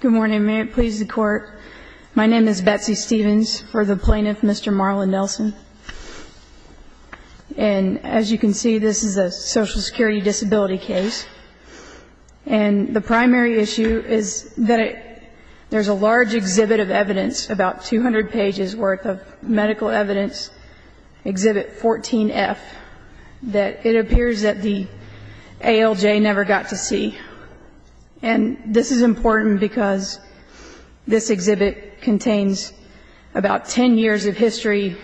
Good morning. May it please the Court, my name is Betsy Stevens, for the plaintiff Mr. Marlin Nelson, and as you can see this is a social security disability case, and the primary issue is that there's a large exhibit of evidence, about 200 pages worth of medical evidence, exhibit 14F, that it appears that the ALJ never got to see. And this is important because this exhibit contains about 10 years of history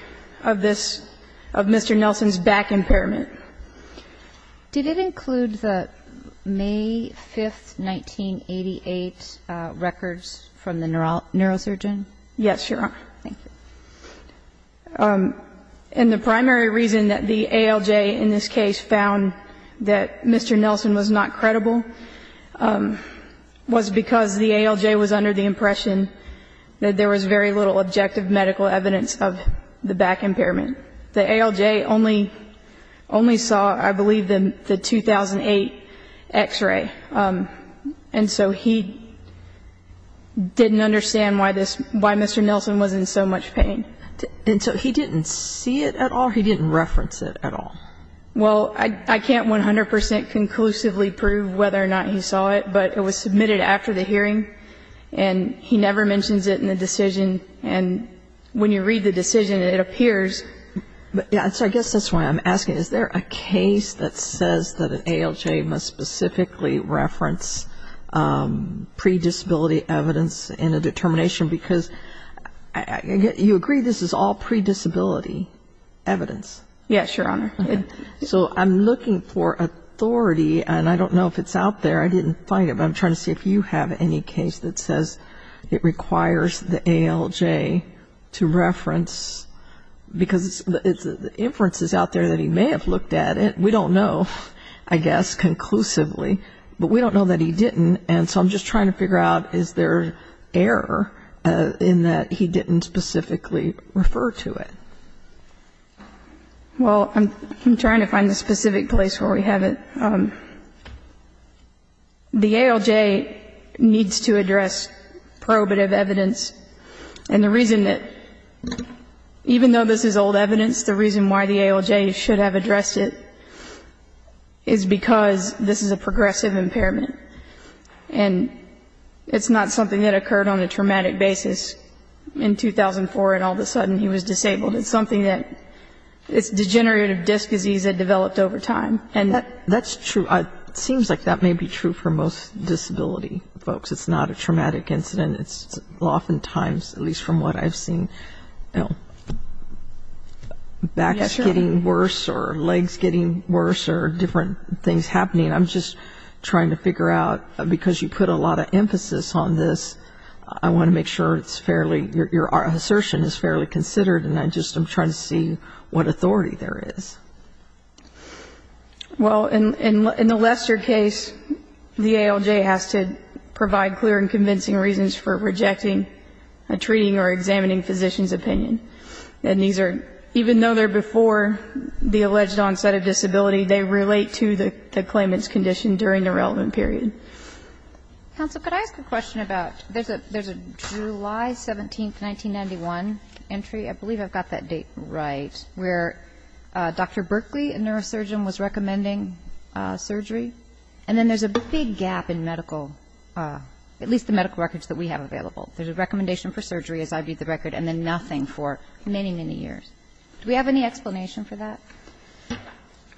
of this, of Mr. Nelson's back impairment. Did it include the May 5th, 1988 records from the neurosurgeon? Yes, Your Honor. Thank you. And the primary reason that the ALJ in this case found that Mr. Nelson was not credible was because the ALJ was under the impression that there was very little objective medical evidence of the back impairment. The ALJ only, only saw, I believe, the 2008 x-ray. And so he didn't understand why this, why Mr. Nelson was in so much pain. And so he didn't see it at all? He didn't reference it at all? Well, I can't 100% conclusively prove whether or not he saw it, but it was submitted after the hearing, and he never mentions it in the decision. And when you read the decision, it appears. So I guess that's why I'm asking. Is there a case that says that an ALJ must specifically reference predisability evidence in a determination? Because you agree this is all predisability evidence? Yes, Your Honor. So I'm looking for authority, and I don't know if it's out there. I didn't find it, but I'm trying to see if you have any case that says it requires the ALJ to reference, because the inference is out there that he may have looked at it. We don't know, I guess, conclusively, but we don't know that he didn't. And so I'm just trying to figure out, is there error in that he didn't specifically refer to it? Well, I'm trying to find the specific place where we have it. The ALJ needs to address probative evidence. And the reason that, even though this is old evidence, the reason why the ALJ should have addressed it is because this is a progressive impairment. And it's not something that occurred on a traumatic basis in 2004 and all of a sudden he was disabled. It's something that's degenerative disc disease that developed over time. That's true. It seems like that may be true for most disability folks. It's not a traumatic incident. It's oftentimes, at least from what I've seen, back is getting worse or legs getting worse or different things happening. I'm just trying to figure out, because you put a lot of emphasis on this, I want to make sure it's fairly, your assertion is fairly considered, and I'm just trying to see what authority there is. Well, in the Lester case, the ALJ has to provide clear and convincing reasons for rejecting a treating or examining physician's opinion. And these are, even though they're before the alleged onset of disability, they relate to the claimant's condition during the relevant period. Counsel, could I ask a question about, there's a July 17, 1991 entry, I believe I've got that date right, where Dr. Berkley, a neurosurgeon, was recommending surgery. And then there's a big gap in medical, at least the medical records that we have available. There's a recommendation for surgery, as I read the record, and then nothing for many, many years. Do we have any explanation for that?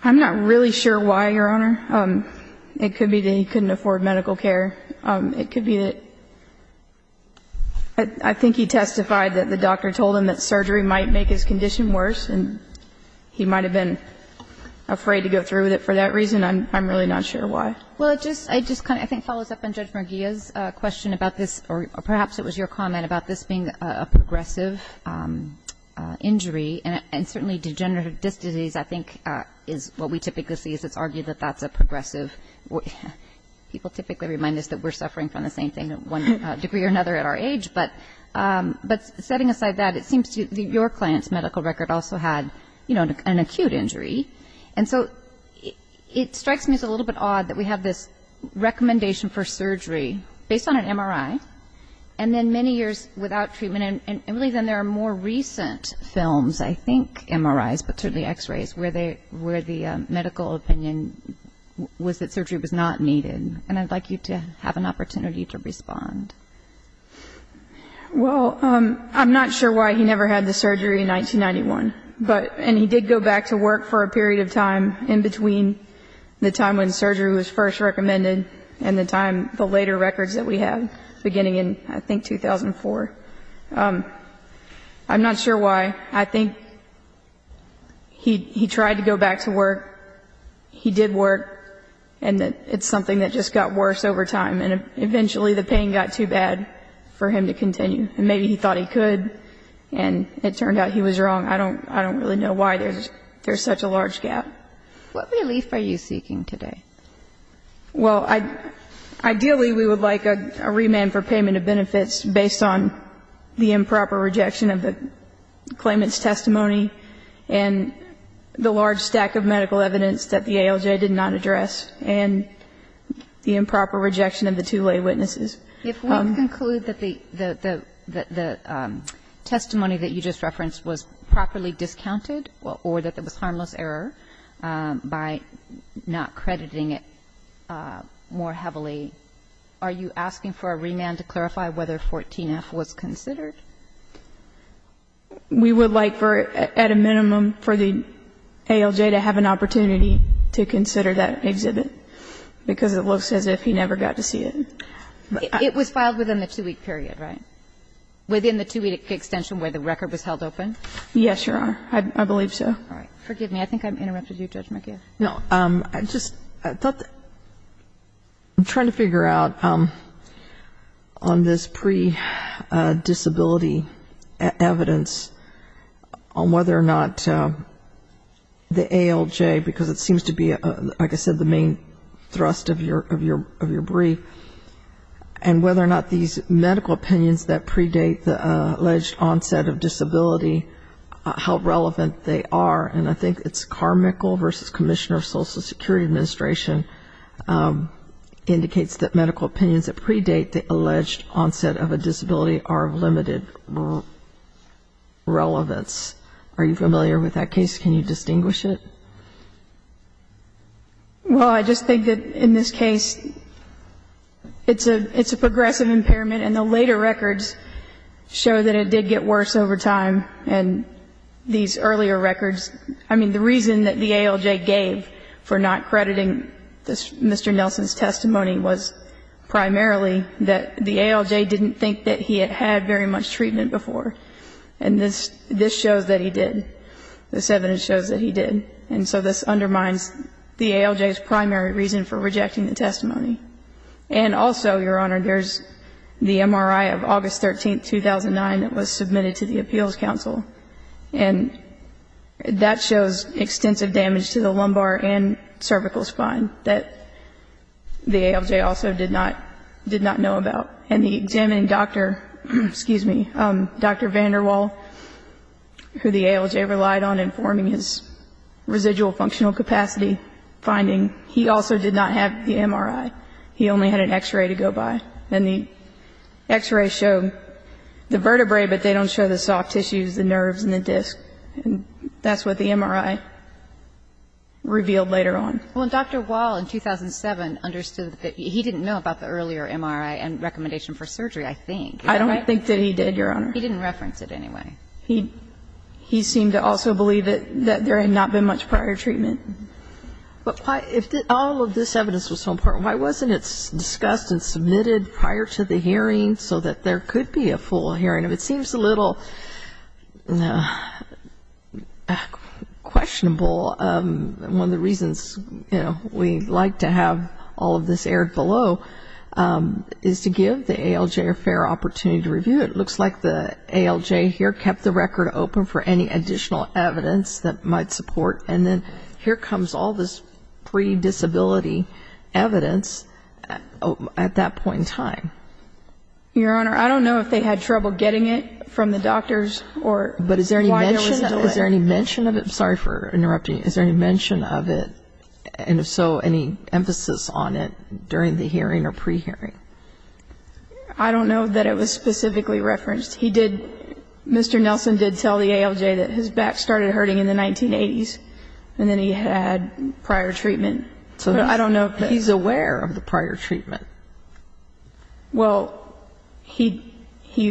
I'm not really sure why, Your Honor. It could be that he couldn't afford medical care. It could be that, I think he testified that the doctor told him that surgery might make his condition worse, and he might have been afraid to go through with it for that reason. I'm really not sure why. Well, it just kind of, I think, follows up on Judge Murguia's question about this, or perhaps it was your comment about this being a progressive injury. And certainly degenerative disc disease, I think, is what we typically see, is it's argued that that's a progressive. People typically remind us that we're suffering from the same thing at one degree or another at our age. But setting aside that, it seems to me that your client's medical record also had, you know, an acute injury. And so it strikes me as a little bit odd that we have this recommendation for surgery based on an MRI, and then many years without treatment. And really, then, there are more recent films, I think, MRIs, but certainly X-rays, where the medical opinion was that surgery was not needed. And I'd like you to have an opportunity to respond. Well, I'm not sure why he never had the surgery in 1991. And he did go back to work for a period of time in between the time when surgery was first recommended and the time, the later records that we have, beginning in, I think, 2004. I'm not sure why. I think he tried to go back to work. He did work, and it's something that just got worse over time. And eventually the pain got too bad for him to continue. And maybe he thought he could, and it turned out he was wrong. I don't really know why there's such a large gap. What relief are you seeking today? Well, ideally, we would like a remand for payment of benefits based on the improper rejection of the claimant's testimony and the large stack of medical evidence that the ALJ did not address, and the improper rejection of the two lay witnesses. If we conclude that the testimony that you just referenced was properly discounted or that there was harmless error by not crediting it more heavily, are you asking for a remand to clarify whether 14F was considered? We would like for, at a minimum, for the ALJ to have an opportunity to consider that exhibit, because it looks as if he never got to see it. It was filed within the two-week period, right? Within the two-week extension where the record was held open? Yes, Your Honor. I believe so. All right. Forgive me. I think I've interrupted you, Judge McGill. No. I just thought that I'm trying to figure out on this pre-disability evidence on whether or not the ALJ, because it seems to be, like I said, the main thrust of your brief, and whether or not these medical opinions that predate the alleged onset of disability, how relevant they are. And I think it's Carmichael v. Commissioner of Social Security Administration indicates that medical opinions that predate the alleged onset of a disability are of limited relevance. Are you familiar with that case? Can you distinguish it? Well, I just think that in this case, it's a progressive impairment, and the later records show that it did get worse over time. And these earlier records, I mean, the reason that the ALJ gave for not crediting Mr. Nelson's testimony was primarily that the ALJ didn't think that he had had very much treatment before. And this shows that he did. This evidence shows that he did. And so this undermines the ALJ's primary reason for rejecting the testimony. And also, Your Honor, there's the MRI of August 13, 2009, that was submitted to the Appeals Council. And that shows extensive damage to the lumbar and cervical spine that the ALJ also did not know about. And the examining doctor, excuse me, Dr. VanderWaal, who the ALJ relied on in forming his residual functional capacity finding, he also did not have the MRI. He only had an X-ray to go by. And the X-rays show the vertebrae, but they don't show the soft tissues, the nerves and the discs. And that's what the MRI revealed later on. Well, Dr. Wahl, in 2007, understood that he didn't know about the earlier MRI and recommendation for surgery, I think. Is that right? I don't think that he did, Your Honor. He didn't reference it anyway. He seemed to also believe that there had not been much prior treatment. But why, if all of this evidence was so important, why wasn't it discussed and submitted prior to the hearing so that there could be a full hearing? It seems a little questionable. One of the reasons we like to have all of this aired below is to give the ALJ a fair opportunity to review it. It looks like the ALJ here kept the record open for any additional evidence that might support. And then here comes all this pre-disability evidence at that point in time. Your Honor, I don't know if they had trouble getting it from the doctors or why there was a delay. But is there any mention of it? I'm sorry for interrupting. Is there any mention of it? And if so, any emphasis on it during the hearing or pre-hearing? I don't know that it was specifically referenced. He did, Mr. Nelson did tell the ALJ that his back started hurting in the 1980s, and then he had prior treatment. He's aware of the prior treatment. Well, he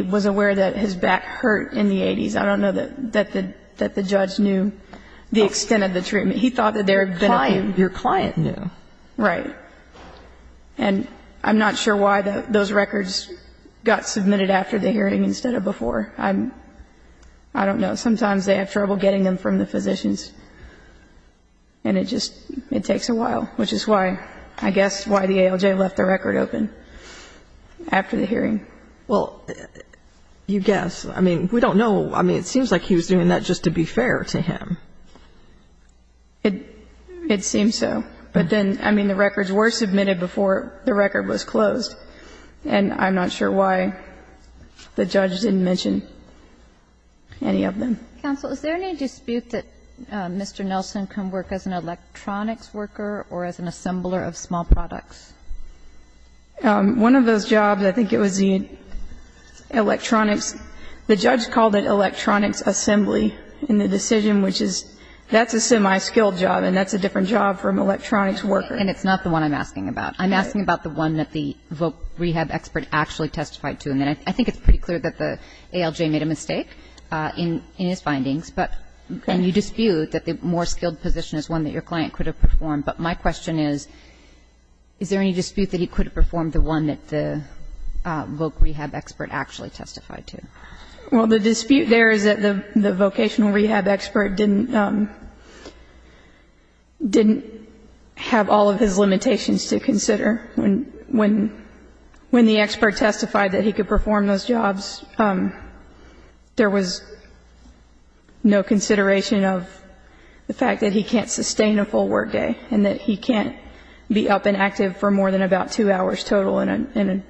was aware that his back hurt in the 1980s. I don't know that the judge knew the extent of the treatment. He thought that there had been a pain. Your client knew. Right. And I'm not sure why those records got submitted after the hearing instead of before. I don't know. Sometimes they have trouble getting them from the physicians. And it just takes a while, which is why, I guess, why the ALJ left the record open after the hearing. Well, you guess. I mean, we don't know. I mean, it seems like he was doing that just to be fair to him. It seems so. But then, I mean, the records were submitted before the record was closed. And I'm not sure why the judge didn't mention any of them. Counsel, is there any dispute that Mr. Nelson can work as an electronics worker or as an assembler of small products? One of those jobs, I think it was the electronics, the judge called it electronics assembly in the decision, which is that's a semi-skilled job, and that's a different job from electronics worker. And it's not the one I'm asking about. I'm asking about the one that the voc rehab expert actually testified to. And I think it's pretty clear that the ALJ made a mistake in his findings. And you dispute that the more skilled position is one that your client could have performed. But my question is, is there any dispute that he could have performed the one that the voc rehab expert actually testified to? Well, the dispute there is that the vocational rehab expert didn't have all of his limitations to consider. When the expert testified that he could perform those jobs, there was no consideration of the fact that he can't sustain a full work day and that he can't be up and active for more than about two hours total in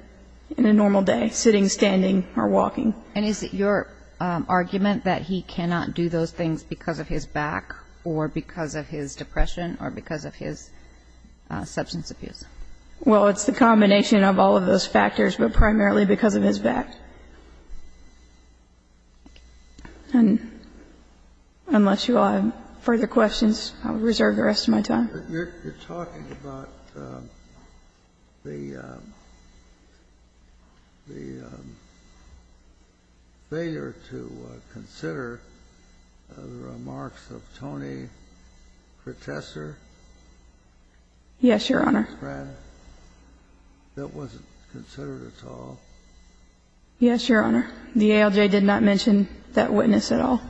a normal day, sitting, standing or walking. And is it your argument that he cannot do those things because of his back or because of his depression or because of his substance abuse? Well, it's the combination of all of those factors, but primarily because of his back. And unless you all have further questions, I'll reserve the rest of my time. You're talking about the failure to consider the remarks of Tony Kertesser? Yes, Your Honor. That wasn't considered at all. Yes, Your Honor. The ALJ did not mention that witness at all.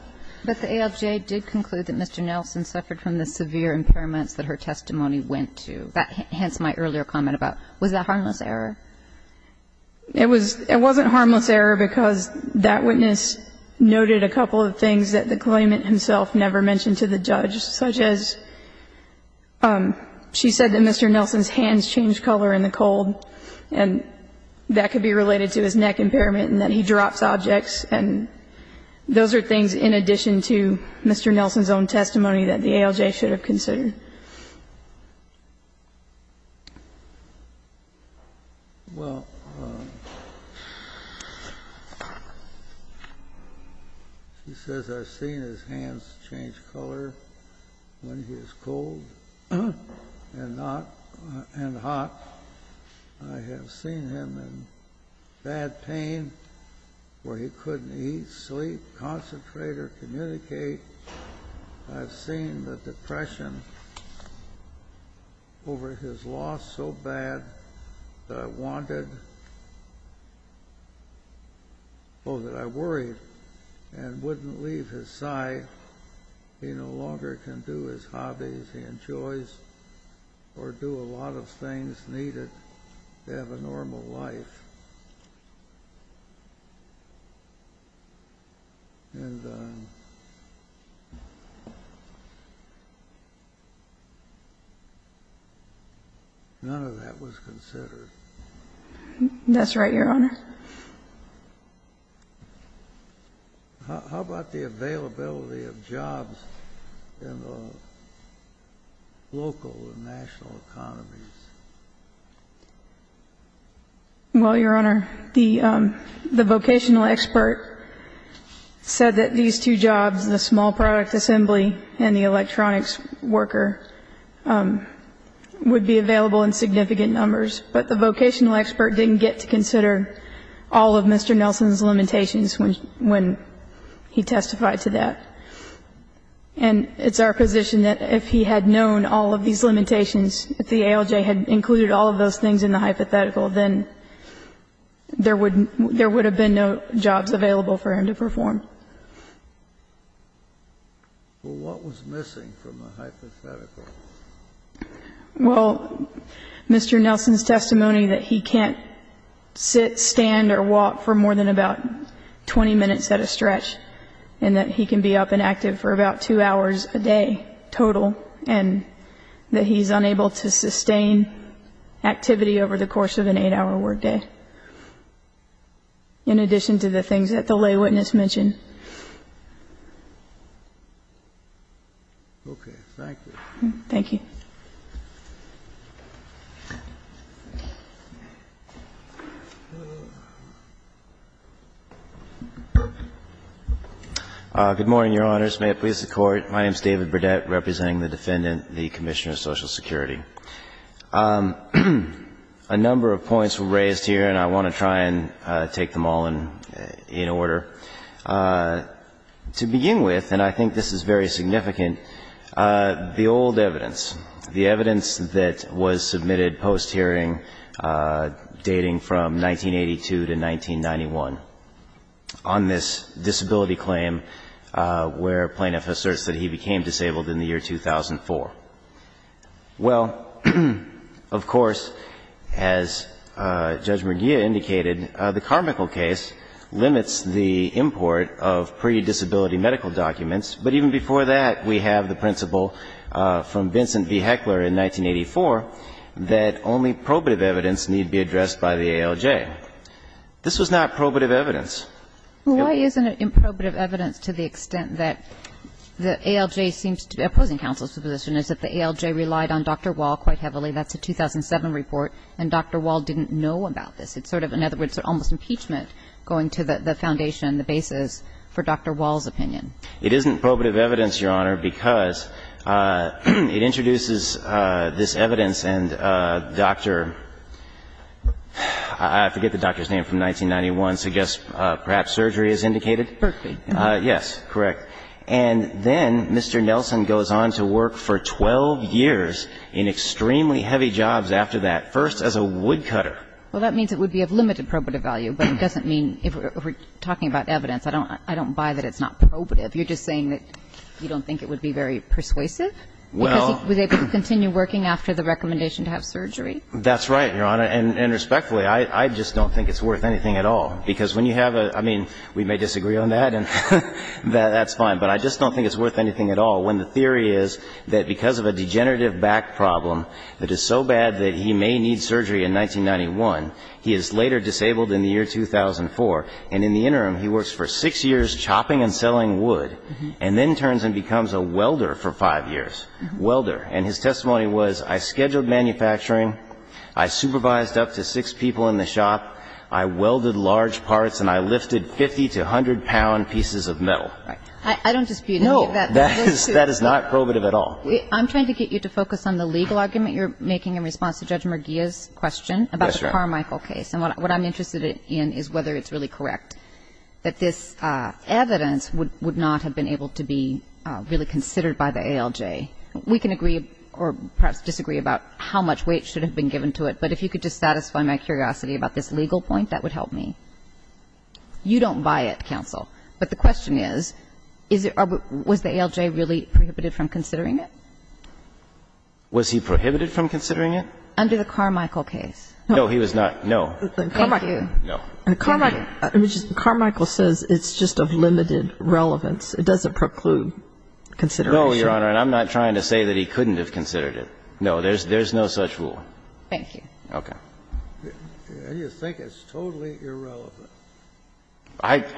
But the ALJ did conclude that Mr. Nelson suffered from the severe impairments that her testimony went to, hence my earlier comment about was that harmless error? It wasn't harmless error because that witness noted a couple of things that the claimant himself never mentioned to the judge, such as she said that Mr. Nelson's hands changed color in the cold and that could be related to his neck impairment and that he drops objects, and those are things in addition to Mr. Nelson's own testimony that the ALJ should have considered. Well, she says I've seen his hands change color when he was cold and not and hot. I have seen him in bad pain where he couldn't eat, sleep, concentrate, or communicate. I've seen the depression over his loss so bad that I worried and wouldn't leave his side. He no longer can do his hobbies. He enjoys or do a lot of things needed to have a normal life. And none of that was considered. That's right, Your Honor. How about the availability of jobs in the local and national economies? Well, Your Honor, the vocational expert said that these two jobs, the small product assembly and the electronics worker, would be available in significant numbers. But the vocational expert didn't get to consider all of Mr. Nelson's limitations when he testified to that. And it's our position that if he had known all of these limitations, if the ALJ had included all of those things in the hypothetical, then there would have been no jobs available for him to perform. Well, what was missing from the hypothetical? Well, Mr. Nelson's testimony that he can't sit, stand, or walk for more than about 20 minutes at a stretch, and that he can be up and active for about two hours a day total, and that he's unable to sustain activity over the course of an eight-hour workday, in addition to the things that the lay witness mentioned. Okay. Thank you. Thank you. Good morning, Your Honors. May it please the Court. My name is David Burdett, representing the Defendant, the Commissioner of Social Security. A number of points were raised here, and I want to try and take them all in order. First of all, I would like to thank the Defendant for his testimony. To begin with, and I think this is very significant, the old evidence, the evidence that was submitted post-hearing, dating from 1982 to 1991, on this disability claim where Plaintiff asserts that he became disabled in the year 2004. Well, of course, as Judge McGeer indicated, the Carmichael case limits the import of pre-disability medical documents, but even before that, we have the principle from Vincent V. Heckler in 1984 that only probative evidence need be addressed by the ALJ. This was not probative evidence. Well, why isn't it probative evidence to the extent that the ALJ seems to be opposing counsel's position, is that the ALJ relied on Dr. Wall quite heavily. That's a 2007 report, and Dr. Wall didn't know about this. It's sort of, in other words, almost impeachment going to the foundation, the basis for Dr. Wall's opinion. It isn't probative evidence, Your Honor, because it introduces this evidence and Dr. — I forget the doctor's name from 1991, so I guess perhaps surgery is indicated. Berkeley. Yes, correct. And then Mr. Nelson goes on to work for 12 years in extremely heavy jobs after that, first as a woodcutter. Well, that means it would be of limited probative value, but it doesn't mean, if we're talking about evidence, I don't buy that it's not probative. You're just saying that you don't think it would be very persuasive because he was able to continue working after the recommendation to have surgery? That's right, Your Honor. And respectfully, I just don't think it's worth anything at all, because when you have a — I mean, we may disagree on that, and that's fine, but I just don't think it's worth anything at all when the theory is that because of a degenerative back problem that is so bad that he may need surgery in 1991, he is later disabled in the year 2004, and in the interim he works for six years chopping and selling wood, and then turns and becomes a welder for five years. Welder. And his testimony was, I scheduled manufacturing, I supervised up to six people in the shop, I welded large parts, and I lifted 50 to 100-pound pieces of metal. I don't dispute that. No. That is not probative at all. I'm trying to get you to focus on the legal argument you're making in response to Judge Merguia's question about the Carmichael case. Yes, Your Honor. And what I'm interested in is whether it's really correct that this evidence would not have been able to be really considered by the ALJ. We can agree or perhaps disagree about how much weight should have been given to it, but if you could just satisfy my curiosity about this legal point, that would help You don't buy it, counsel. But the question is, was the ALJ really prohibited from considering it? Was he prohibited from considering it? Under the Carmichael case. No, he was not. No. Thank you. Carmichael says it's just of limited relevance. It doesn't preclude consideration. No, Your Honor, and I'm not trying to say that he couldn't have considered it. No, there's no such rule. Thank you. Okay. Do you think it's totally irrelevant?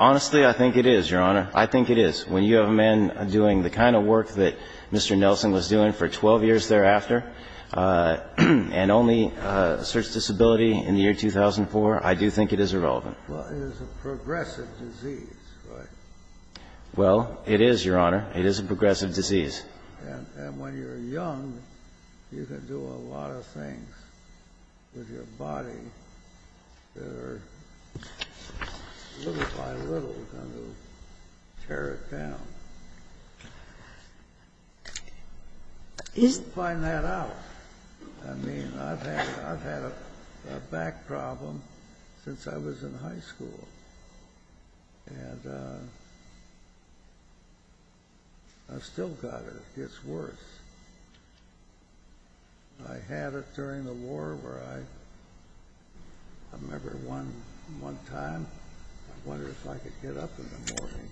Honestly, I think it is, Your Honor. I think it is. When you have a man doing the kind of work that Mr. Nelson was doing for 12 years thereafter, and only a search disability in the year 2004, I do think it is irrelevant. Well, it is a progressive disease, right? Well, it is, Your Honor. It is a progressive disease. And when you're young, you can do a lot of things with your body that are little by little going to tear it down. We'll find that out. I mean, I've had a back problem since I was in high school. And I've still got it. It gets worse. I had it during the war where I remember one time I wondered if I could get up in the morning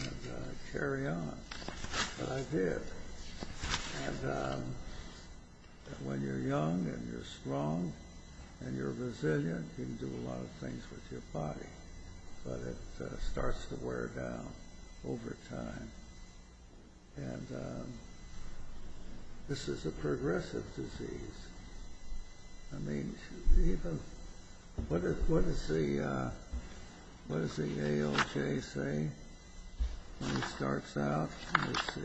and carry on. But I did. And when you're young and you're strong and you're resilient, you can do a lot of things with your body. But it starts to wear down over time. And this is a progressive disease. I mean, what does the AOJ say when it starts out? Let's see.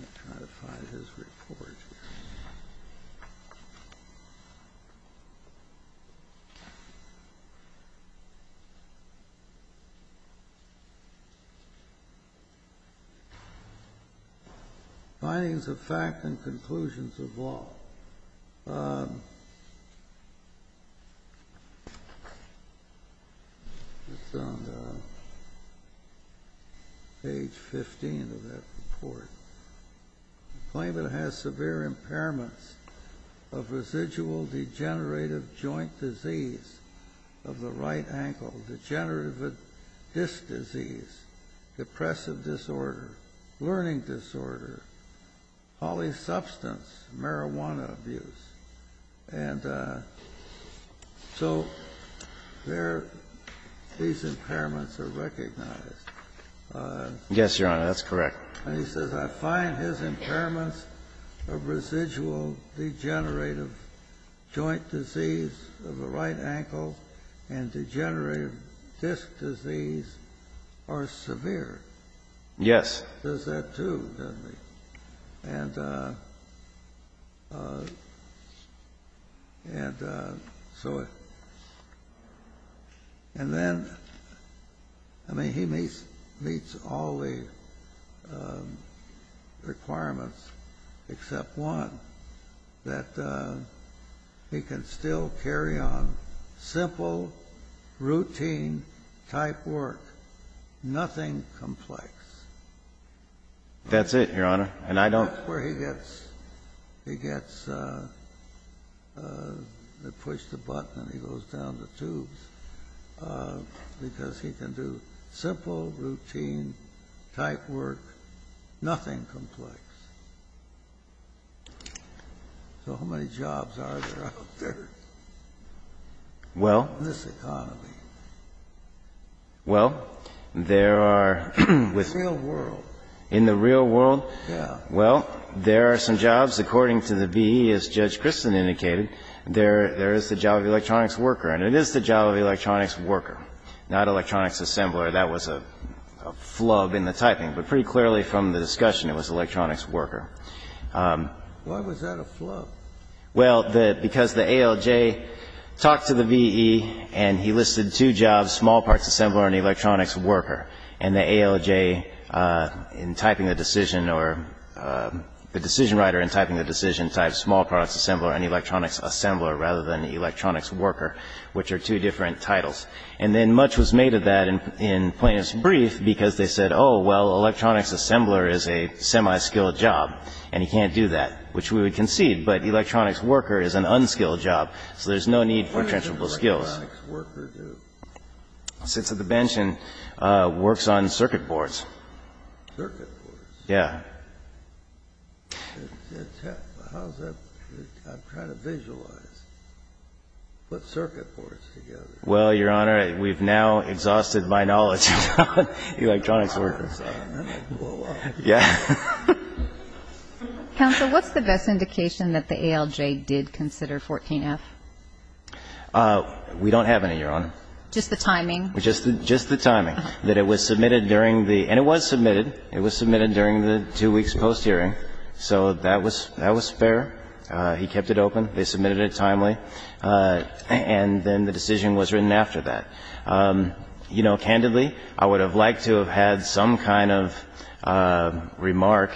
Let me try to find his report here. Findings of fact and conclusions of law. It's on page 15 of that report. Claiming it has severe impairments of residual degenerative joint disease of the right ankle, degenerative disc disease, depressive disorder, learning disorder, polysubstance, marijuana abuse. And so these impairments are recognized. Yes, Your Honor. That's correct. And he says, I find his impairments of residual degenerative joint disease of the right ankle and degenerative disc disease are severe. Yes. He does that too, doesn't he? And so, and then, I mean, he meets all the requirements except one, that he can still carry on simple, routine-type work. Nothing complex. That's it, Your Honor. And I don't. That's where he gets, he gets, they push the button and he goes down the tubes because he can do simple, routine-type work, nothing complex. So how many jobs are there out there in this economy? Well, there are with. In the real world. In the real world. Yes. Well, there are some jobs. According to the VE, as Judge Christen indicated, there is the job of the electronics worker. And it is the job of the electronics worker, not electronics assembler. That was a flub in the typing. But pretty clearly from the discussion, it was electronics worker. Why was that a flub? Well, because the ALJ talked to the VE and he listed two jobs, small parts assembler and electronics worker. And the ALJ in typing the decision or the decision writer in typing the decision typed small products assembler and electronics assembler rather than electronics worker, which are two different titles. And then much was made of that in plaintiff's brief because they said, oh, well, electronics assembler is a semi-skilled job and he can't do that, which we would concede, but electronics worker is an unskilled job, so there's no need for transferable skills. What does an electronics worker do? Sits at the bench and works on circuit boards. Circuit boards? Yeah. How's that? I'm trying to visualize. Put circuit boards together. Well, Your Honor, we've now exhausted my knowledge about electronics workers. That would blow up. Yeah. Counsel, what's the best indication that the ALJ did consider 14F? We don't have any, Your Honor. Just the timing? Just the timing, that it was submitted during the – and it was submitted. It was submitted during the two weeks post-hearing, so that was fair. He kept it open. They submitted it timely. And then the decision was written after that. You know, candidly, I would have liked to have had some kind of remark,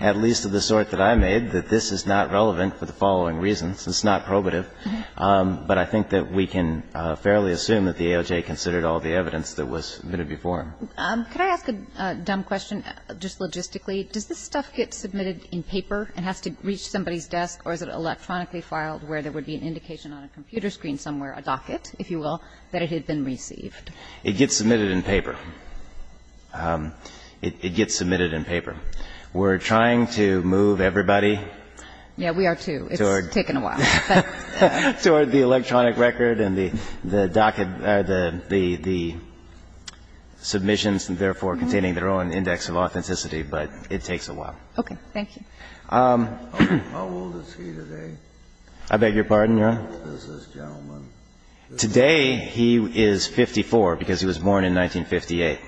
at least of the sort that I made, that this is not relevant for the following reasons. It's not probative, but I think that we can fairly assume that the ALJ considered all the evidence that was submitted before him. Could I ask a dumb question, just logistically? Does this stuff get submitted in paper and has to reach somebody's desk, or is it electronically filed where there would be an indication on a computer screen somewhere, a docket, if you will, that it had been received? It gets submitted in paper. It gets submitted in paper. We're trying to move everybody. Yeah, we are, too. It's taken a while. Toward the electronic record and the docket – or the submissions, and therefore containing their own index of authenticity, but it takes a while. Okay. Thank you. How old is he today? I beg your pardon, Your Honor? How old is this gentleman? Today he is 54, because he was born in 1958.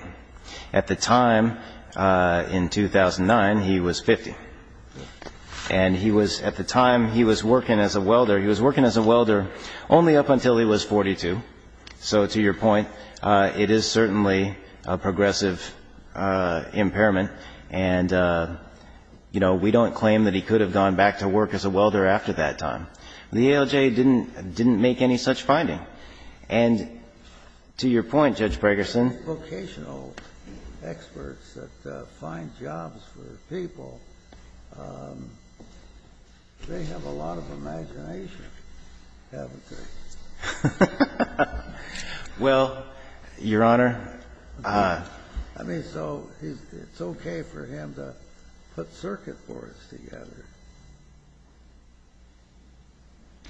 At the time, in 2009, he was 50. And he was, at the time, he was working as a welder. He was working as a welder only up until he was 42. So to your point, it is certainly a progressive impairment, and, you know, we don't claim that he could have gone back to work as a welder after that time. The ALJ didn't make any such finding. And to your point, Judge Bregerson. Vocational experts that find jobs for people, they have a lot of imagination, haven't they? Well, Your Honor. I mean, so it's okay for him to put circuit boards together.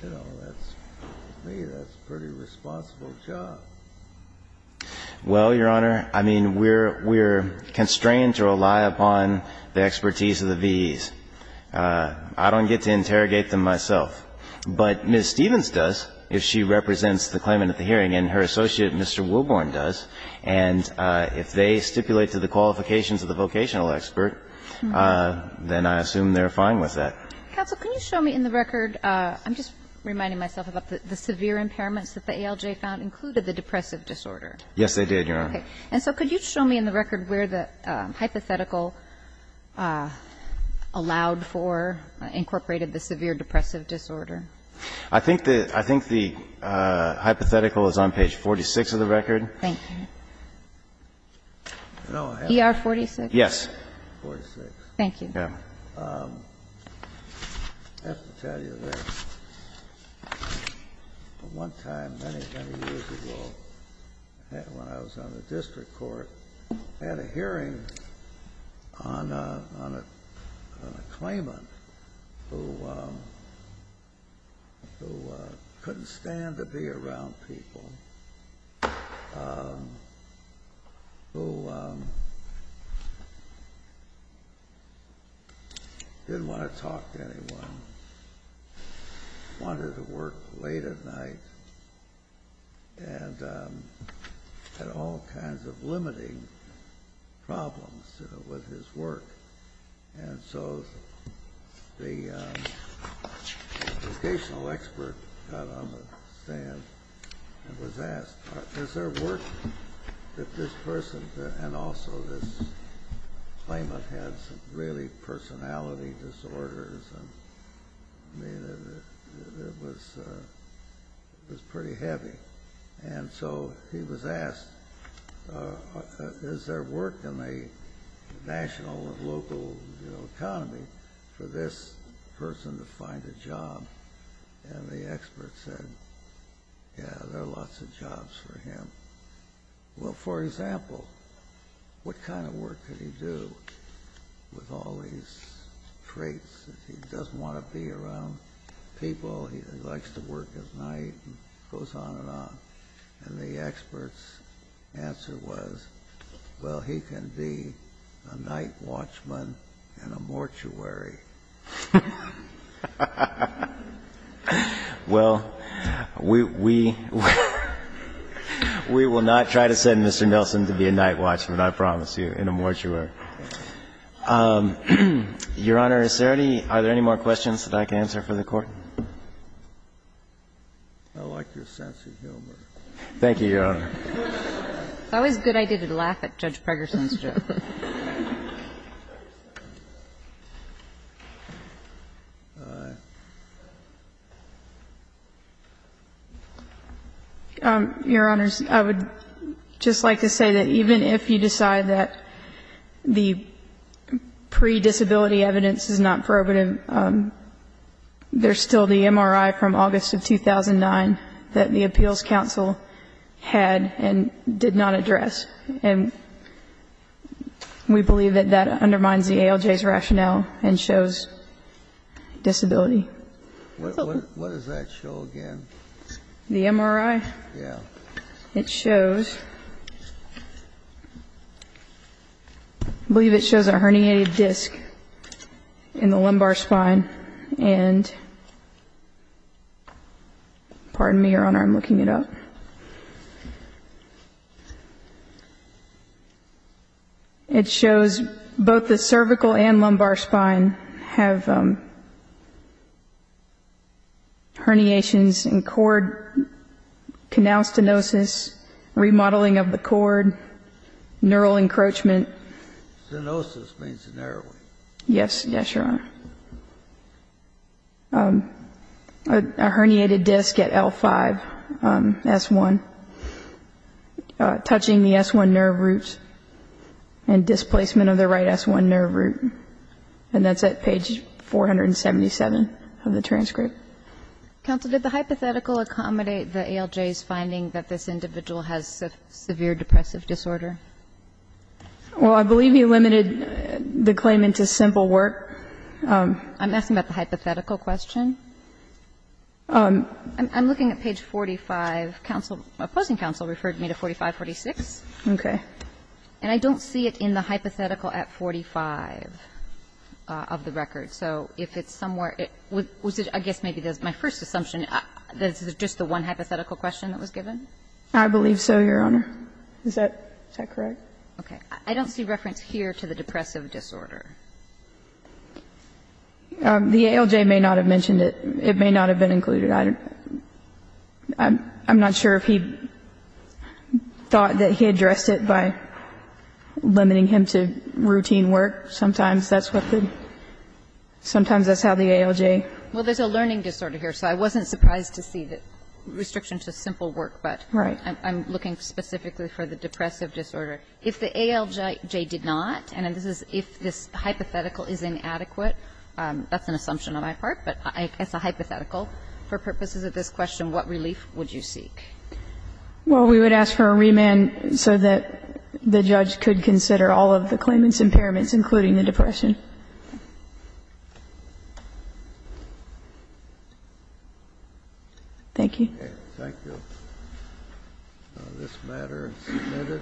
You know, to me, that's a pretty responsible job. Well, Your Honor, I mean, we're constrained to rely upon the expertise of the VEs. I don't get to interrogate them myself. But Ms. Stevens does, if she represents the claimant at the hearing, and her associate, Mr. Wilborn, does. And if they stipulate to the qualifications of the vocational expert, then I assume they're fine with that. Counsel, can you show me in the record, I'm just reminding myself about the severe impairments that the ALJ found included the depressive disorder? Yes, they did, Your Honor. Okay. And so could you show me in the record where the hypothetical allowed for, incorporated the severe depressive disorder? I think the hypothetical is on page 46 of the record. Thank you. ER-46? Yes. 46. Thank you. Yes. I have to tell you this. One time, many, many years ago, when I was on the district court, I had a hearing on a claimant who couldn't stand to be around people, who didn't want to talk to anyone, wanted to work late at night, and had all kinds of limiting problems with his work. And so the vocational expert got on the stand and was asked, is there work that this person could find a job? And also this claimant had some really personality disorders, and it was pretty heavy. And so he was asked, is there work in the national and local economy for this person to find a job? And the expert said, yeah, there are lots of jobs for him. Well, for example, what kind of work could he do with all these traits? He doesn't want to be around people. He likes to work his night and goes on and on. And the expert's answer was, well, he can be a night watchman and a mortuary. Well, we will not try to send Mr. Nelson to be a night watchman, I promise you, in a mortuary. Your Honor, is there any more questions that I can answer for the Court? I like your sense of humor. Thank you, Your Honor. It's always a good idea to laugh at Judge Pregerson's joke. Your Honors, I would just like to say that even if you decide that the pre-disability evidence is not probative, there's still the MRI from August of 2009 that the Appeals Counsel had and did not address. And we believe that that undermines the ALJ's rationale and shows disability. What does that show again? The MRI? Yeah. It shows, I believe it shows a herniated disc in the lumbar spine. And pardon me, Your Honor, I'm looking it up. It shows both the cervical and lumbar spine have herniations and cord canal stenosis, remodeling of the cord, neural encroachment. Stenosis means narrowing. Yes, Your Honor. A herniated disc at L5, S1, touching the S1 nerve root and displacement of the right S1 nerve root. And that's at page 477 of the transcript. Counsel, did the hypothetical accommodate the ALJ's finding that this individual has severe depressive disorder? Well, I believe you limited the claim into simple work. I'm asking about the hypothetical question. I'm looking at page 45. Counsel, opposing counsel referred me to 4546. Okay. And I don't see it in the hypothetical at 45 of the record. So if it's somewhere, I guess maybe that's my first assumption, that it's just the one hypothetical question that was given? I believe so, Your Honor. Is that correct? Okay. I don't see reference here to the depressive disorder. The ALJ may not have mentioned it. It may not have been included. I'm not sure if he thought that he addressed it by limiting him to routine work. Sometimes that's what the ALJ. Well, there's a learning disorder here, so I wasn't surprised to see the restriction to simple work. Right. I'm looking specifically for the depressive disorder. If the ALJ did not, and if this hypothetical is inadequate, that's an assumption on my part, but as a hypothetical, for purposes of this question, what relief would you seek? Well, we would ask for a remand so that the judge could consider all of the claimant's impairments, including the depression. Thank you. This matter is submitted.